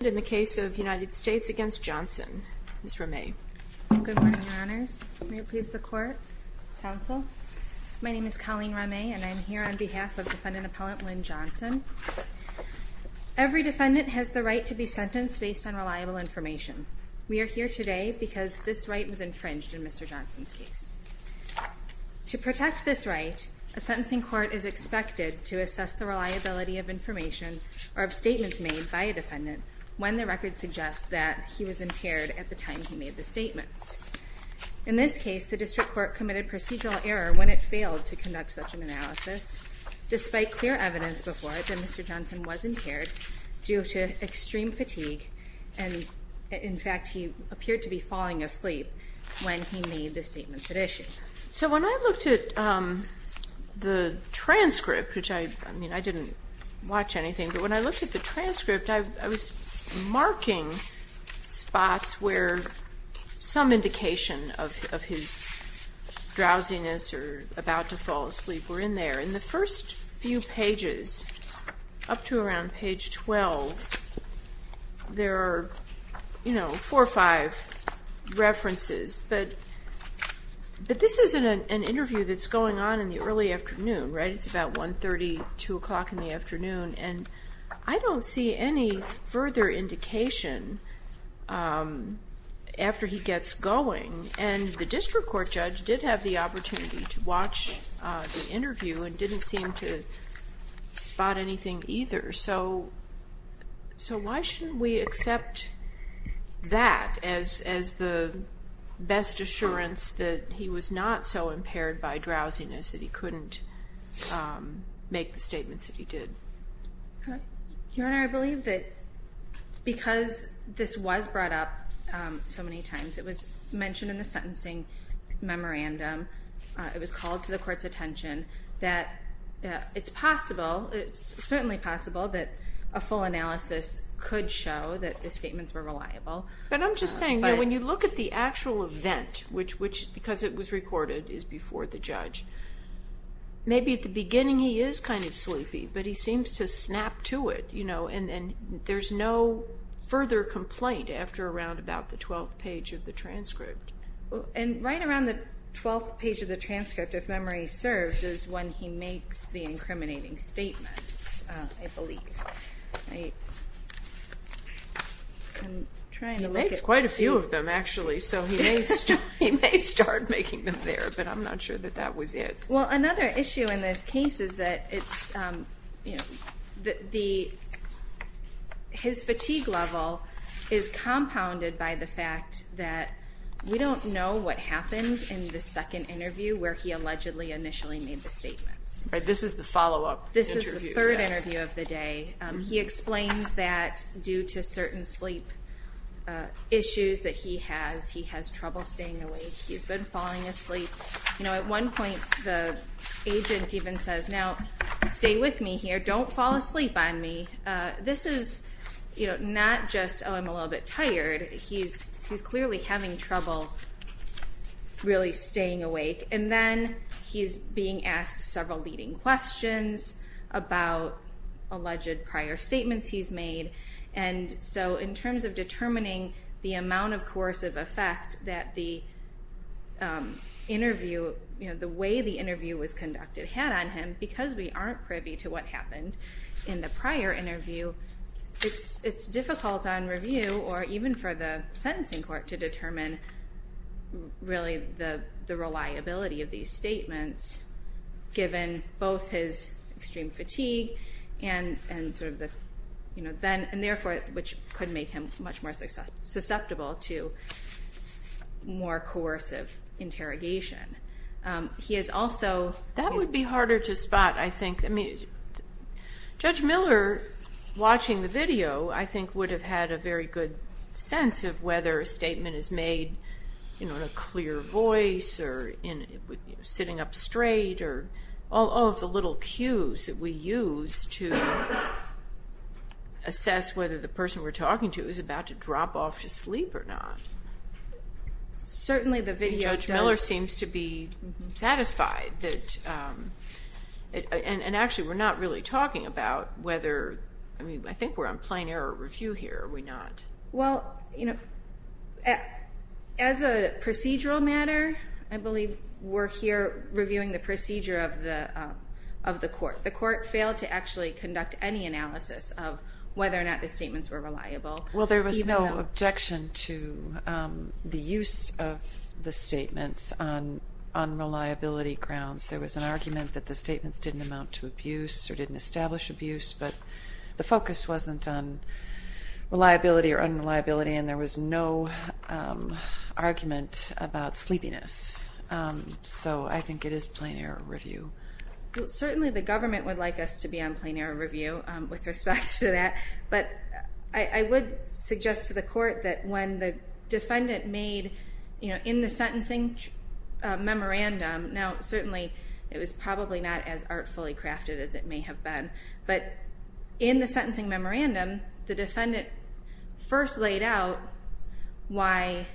States v. Johnson. Ms. Ramay. Good morning, Your Honors. May it please the Court, Counsel. My name is Colleen Ramay, and I am here on behalf of defendant appellant Linn Johnson. Every defendant has the right to be sentenced based on reliable information. We are here today because this right was infringed in Mr. Johnson's case. To protect this right, a sentencing court is expected to assess the reliability of information or of statements made by a defendant when the record suggests that he was impaired at the time he made the statements. In this case, the district court committed procedural error when it failed to conduct such an analysis, despite clear evidence before it that Mr. Johnson was impaired due to extreme fatigue and, in fact, he appeared to be falling asleep when he made the statements at issue. So when I looked at the transcript, which I, I mean, I didn't watch anything, but when I looked at the transcript, I, I was marking spots where some indication of, of his drowsiness or about to fall asleep were in there. In the first few pages up to around page 12, there are, you know, four or five references, but, but this isn't an interview that's going on in the early afternoon, right? It's about 1.30, 2 o'clock in the morning. I don't see any further indication after he gets going, and the district court judge did have the opportunity to watch the interview and didn't seem to spot anything either. So, so why shouldn't we accept that as, as the best assurance that he was not so impaired by drowsiness that he couldn't make the statements that he did? Your Honor, I believe that because this was brought up so many times, it was mentioned in the sentencing memorandum, it was called to the court's attention, that it's possible, it's certainly possible that a full analysis could show that the statements were reliable. But I'm just saying, you know, when you look at the actual event, which, which, because it was recorded, is before the judge, maybe at the beginning he is kind of sleepy, but he seems to snap to it, you know, and, and there's no further complaint after around about the twelfth page of the transcript. And right around the twelfth page of the transcript, if memory serves, is when he makes the incriminating statements, I believe. I'm trying to look at... He makes quite a few of them, actually, so he may start, he may start making them there, but I'm not sure that that was it. Well, another issue in this case is that it's, you know, the, his fatigue level is compounded by the fact that we don't know what happened in the second interview where he allegedly initially made the statements. Right, this is the follow-up interview. This is the third interview of the day. He explains that due to certain sleep issues that he has, he has trouble staying awake. He's been falling asleep. You know, at one point the agent even says, now stay with me here, don't fall asleep on me. This is, you know, not just, oh, I'm a little bit tired. He's, he's clearly having trouble really staying awake. And then he's being asked several leading questions about alleged prior statements he's made. And so, in terms of determining the amount of coercive effect that the interview, you know, the way the interview was conducted had on him, because we aren't privy to what happened in the prior interview, it's, it's difficult on review or even for the sentencing court to determine really the, the reliability of these statements given both his extreme fatigue and, and sort of the, you know, then, and therefore, which could make him much more susceptible to more coercive interrogation. He is also... That would be harder to spot, I think. I mean, Judge Miller watching the video, I think, would have had a very good sense of whether a statement is made, you know, in a clear voice or in, you know, sitting up straight or all, all of the little cues that we use to assess whether the person we're talking to is about to drop off to sleep or not. Certainly the video does... Judge Miller seems to be satisfied that, and, and actually we're not really talking about whether, I mean, I think we're on plain error review here, are we not? Well, you know, as a procedural matter, I believe we're here reviewing the procedure of the, of the court. The court failed to actually conduct any analysis of whether or not the statements were reliable. Well, there was no objection to the use of the statements on, on reliability grounds. There was an argument that the statements didn't amount to abuse or didn't establish abuse, but the focus wasn't on reliability or unreliability and there was no argument about sleepiness. So I think it is plain error review. Well, certainly the government would like us to be on plain error review with respect to that, but I, I would suggest to the court that when the defendant made, you know, in the sentencing memorandum, now certainly it was probably not as artfully crafted as it may have been, but in the sentencing memorandum, the defendant first laid out why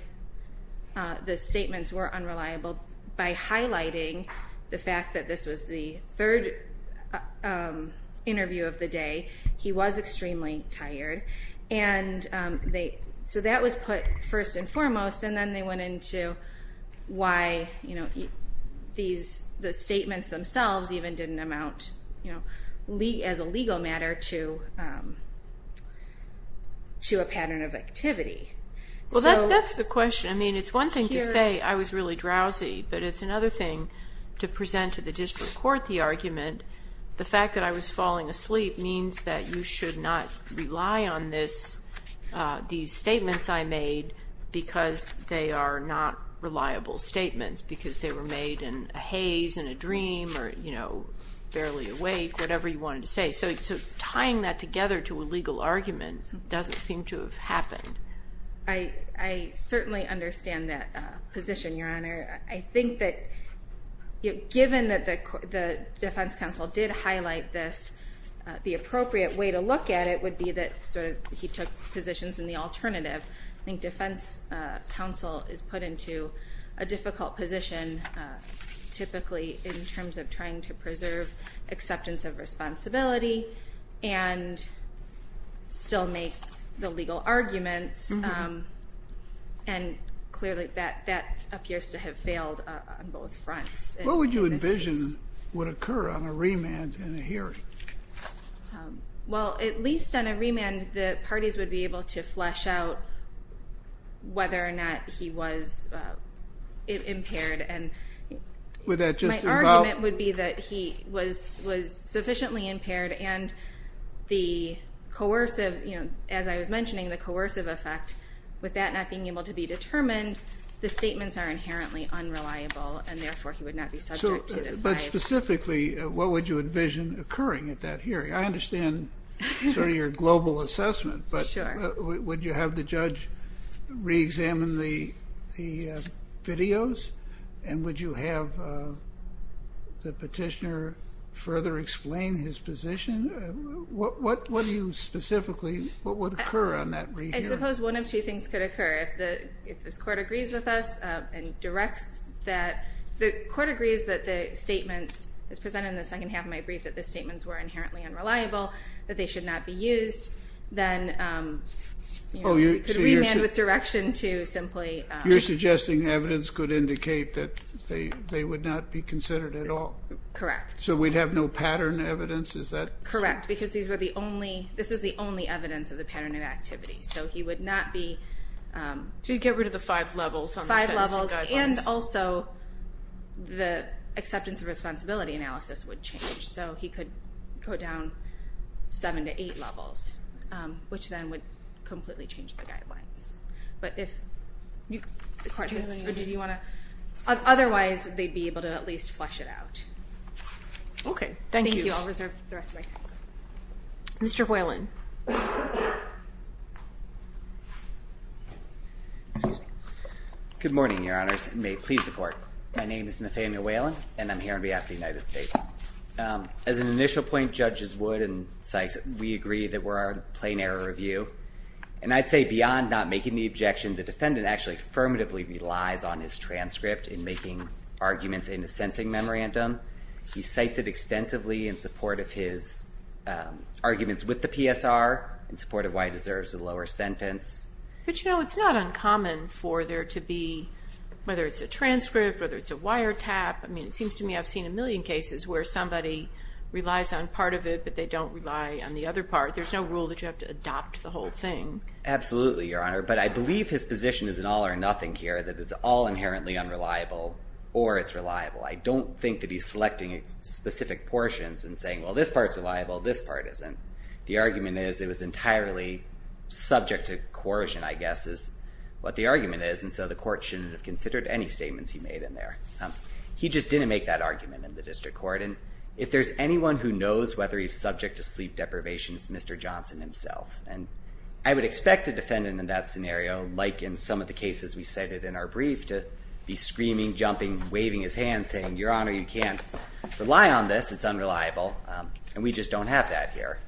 the statements were unreliable by highlighting the fact that this was the third interview of the day. He was extremely tired and they, so that was put first and foremost, and then they went into why, you know, these, the statements themselves even didn't amount, you know, as a legal matter to, to a pattern of activity. Well, that's the question. I mean, it's one thing to say I was really drowsy, but it's another thing to present to the district court the argument, the fact that I was falling asleep means that you should not rely on this, these statements I made because they are not reliable statements, because they were made in a haze and a dream or, you know, barely awake, whatever you wanted to say. So, so tying that together to a legal argument doesn't seem to have happened. I, I certainly understand that position, Your Honor. I think that, you know, given that the, the defense counsel did highlight this, the appropriate way to look at it would be that sort of he took positions in the alternative. I think defense counsel is put into a difficult position, typically in terms of trying to preserve acceptance of responsibility and still make the legal arguments. And clearly that, that appears to have failed on both fronts. What would you envision would occur on a remand in a hearing? Well, at least on a remand, the parties would be able to flesh out whether or not he was impaired and... Would that just involve... My argument would be that he was, was sufficiently impaired and the coercive, you know, as I was mentioning, the coercive effect with that not being able to be determined, the statements are inherently unreliable and therefore he would not be subject to... So, but specifically, what would you envision occurring at that hearing? I understand sort of your global assessment, but would you have the judge re-examine the, the videos? And would you have the petitioner further explain his position? What, what, what do you specifically, what would occur on that re-hearing? I suppose one of two things could occur. If the, if this court agrees with us and directs that, the court agrees that the statements, as presented in the second half of my brief, that the statements were inherently unreliable, that they should not be used, then, you know, we could remand with direction to simply... You're suggesting evidence could indicate that they, they would not be considered at all? Correct. So we'd have no pattern evidence? Is that... No, he would not be... So you'd get rid of the five levels on the sentencing guidelines? Five levels and also the acceptance of responsibility analysis would change. So he could put down seven to eight levels, which then would completely change the guidelines. But if you, the court doesn't... Do you want to... Otherwise, they'd be able to at least flesh it out. Okay. Thank you. Thank you. I'll reserve the rest of my time. Mr. Whalen. Excuse me. Good morning, Your Honors, and may it please the court. My name is Nathaniel Whalen, and I'm here on behalf of the United States. As an initial point, Judges Wood and Sykes, we agree that we're on a plain error review. And I'd say beyond not making the objection, the defendant actually affirmatively relies on his transcript in making arguments in the sentencing memorandum. He cites it extensively in support of his arguments with the PSR, in support of why he deserves a lower sentence. But, you know, it's not uncommon for there to be, whether it's a transcript, whether it's a wiretap. I mean, it seems to me I've seen a million cases where somebody relies on part of it, but they don't rely on the other part. There's no rule that you have to adopt the whole thing. Absolutely, Your Honor. But I believe his position is an all or nothing here, that it's all inherently unreliable or it's reliable. I don't think that he's selecting specific portions and saying, well, this part's reliable, this part isn't. The argument is it was entirely subject to coercion, I guess, is what the argument is. And so the court shouldn't have considered any statements he made in there. He just didn't make that argument in the district court. And if there's anyone who knows whether he's subject to sleep deprivation, it's Mr. Johnson himself. And I would expect a defendant in that scenario, like in some of the cases we cited in our brief, to be screaming, jumping, waving his hand, saying, Your Honor, you can't rely on this. It's unreliable. And we just don't have that here.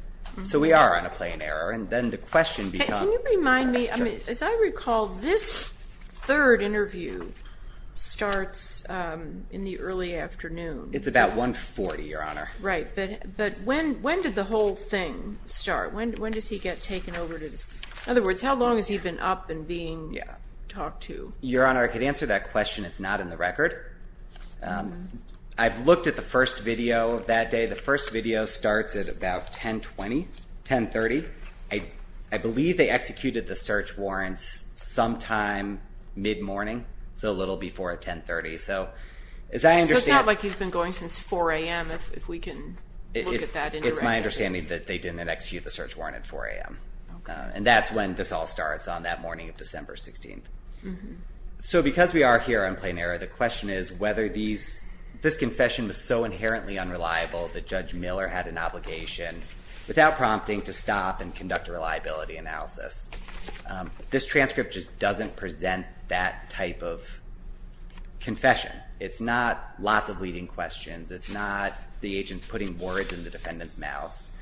So we are on a plain error. And then the question becomes... Can you remind me, as I recall, this third interview starts in the early afternoon. It's about 1.40, Your Honor. Right. But when did the whole thing start? When does he get taken over to this... In other words, how long has he been up and being talked to? Your Honor, I could answer that question. It's not in the record. I've looked at the first video of that day. The first video starts at about 10.20, 10.30. I believe they executed the search warrants sometime mid-morning, so a little before at 10.30. So as I understand... So it's not like he's been going since 4 a.m., if we can look at that... It's my understanding that they didn't execute the search warrant at 4 a.m. Okay. And that's when this all starts, on that morning of December 16th. So because we are here on plain error, the question is whether this confession was so inherently unreliable that Judge Miller had an obligation, without prompting, to stop and conduct a reliability analysis. This transcript just doesn't present that type of confession. It's not lots of leading questions. It's not the agent putting words in the defendant's mouth.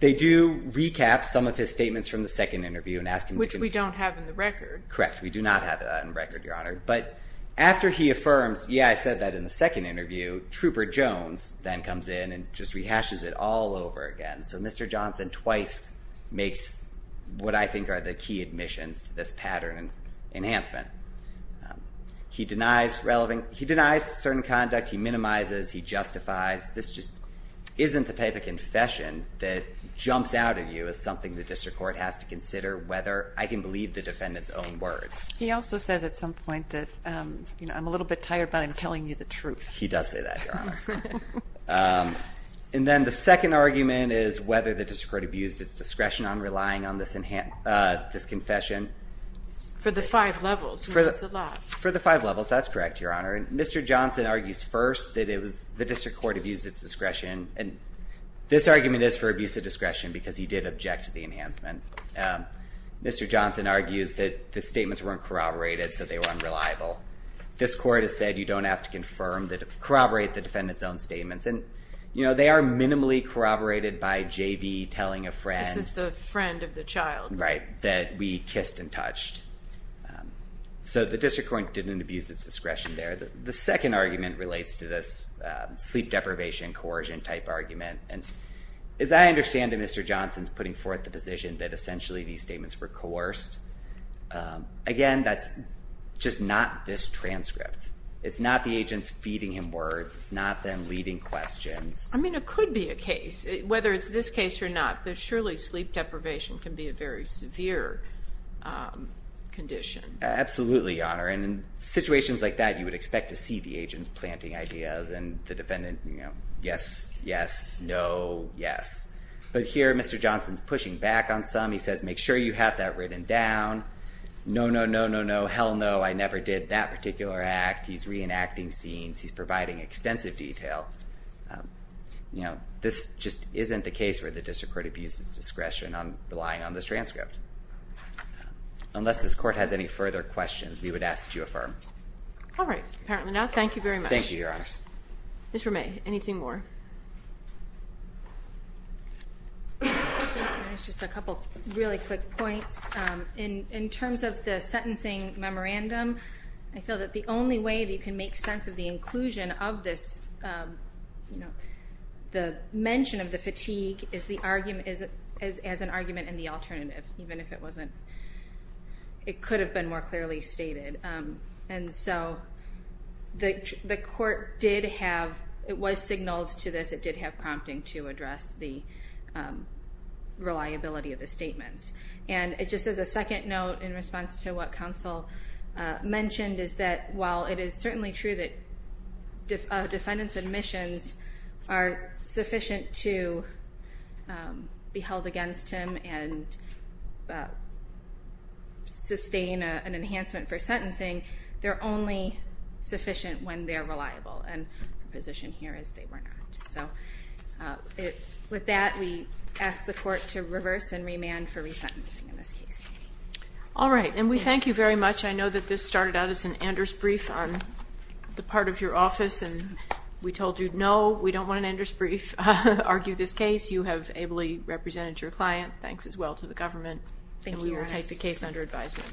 They do recap some of his statements from the second interview and ask him to... Which we don't have in the record. Correct. We do not have that in the record, Your Honor. But after he affirms, yeah, I said that in the second interview, Trooper Jones then comes in and just rehashes it all over again. So Mr. Johnson twice makes what I think are the key admissions to this pattern enhancement. He denies certain conduct. He minimizes. He justifies. This just isn't the type of confession that jumps out at you as something the district court has to consider whether I can believe the defendant's own words. He also says at some point that, you know, I'm a little bit tired but I'm telling you the truth. He does say that, Your Honor. And then the second argument is whether the district court abused its discretion on relying on this confession. For the five levels. That's a lot. For the five levels. That's correct, Your Honor. And Mr. Johnson argues first that it And this argument is for abuse of discretion because he did object to the enhancement. Mr. Johnson argues that the statements weren't corroborated so they were unreliable. This court has said you don't have to corroborate the defendant's own statements. And, you know, they are minimally corroborated by JV telling a friend. This is the friend of the child. Right. That we kissed and touched. So the district court didn't abuse its discretion there. The second argument relates to this sleep deprivation coercion type argument. And as I understand it, Mr. Johnson is putting forth the position that essentially these statements were coerced. Again, that's just not this transcript. It's not the agents feeding him words. It's not them leading questions. I mean, it could be a case, whether it's this case or not. But surely sleep deprivation can be a very severe condition. Absolutely, Your Honor. And in situations like that you would expect to see the agents planting ideas and the defendant, you know, yes, yes, no, yes. But here Mr. Johnson's pushing back on some. He says make sure you have that written down. No, no, no, no, no. Hell no. I never did that particular act. He's reenacting scenes. He's providing extensive detail. You know, this just isn't the case where the district court abuses discretion on relying on this transcript. Unless this court has any further questions, we would ask that you affirm. All right. Apparently not. Thank you very much. Thank you, Your Honors. Mr. May, anything more? Just a couple really quick points. In terms of the sentencing memorandum, I feel that the only way that you can make sense of the inclusion of this, you know, the mention of the fatigue as an argument and the alternative, even if it wasn't, it could have been more clearly stated. And so the court did have, it was signaled to this, it did have prompting to address the reliability of the statements. And just as a second note in response to what counsel mentioned, is that while it is certainly true that defendant's admissions are sufficient to be held against him and sustain an enhancement for sentencing, they're only sufficient when they're reliable. And the position here is they were not. So with that, we ask the court to reverse and remand for resentencing in this case. All right. And we thank you very much. I know that this started out as an Anders brief on the part of your office, and we told you, no, we don't want an Anders brief. Argue this case. You have ably represented your client. Thanks as well to the government. Thank you, Your Honors. And we will take the case under advisement.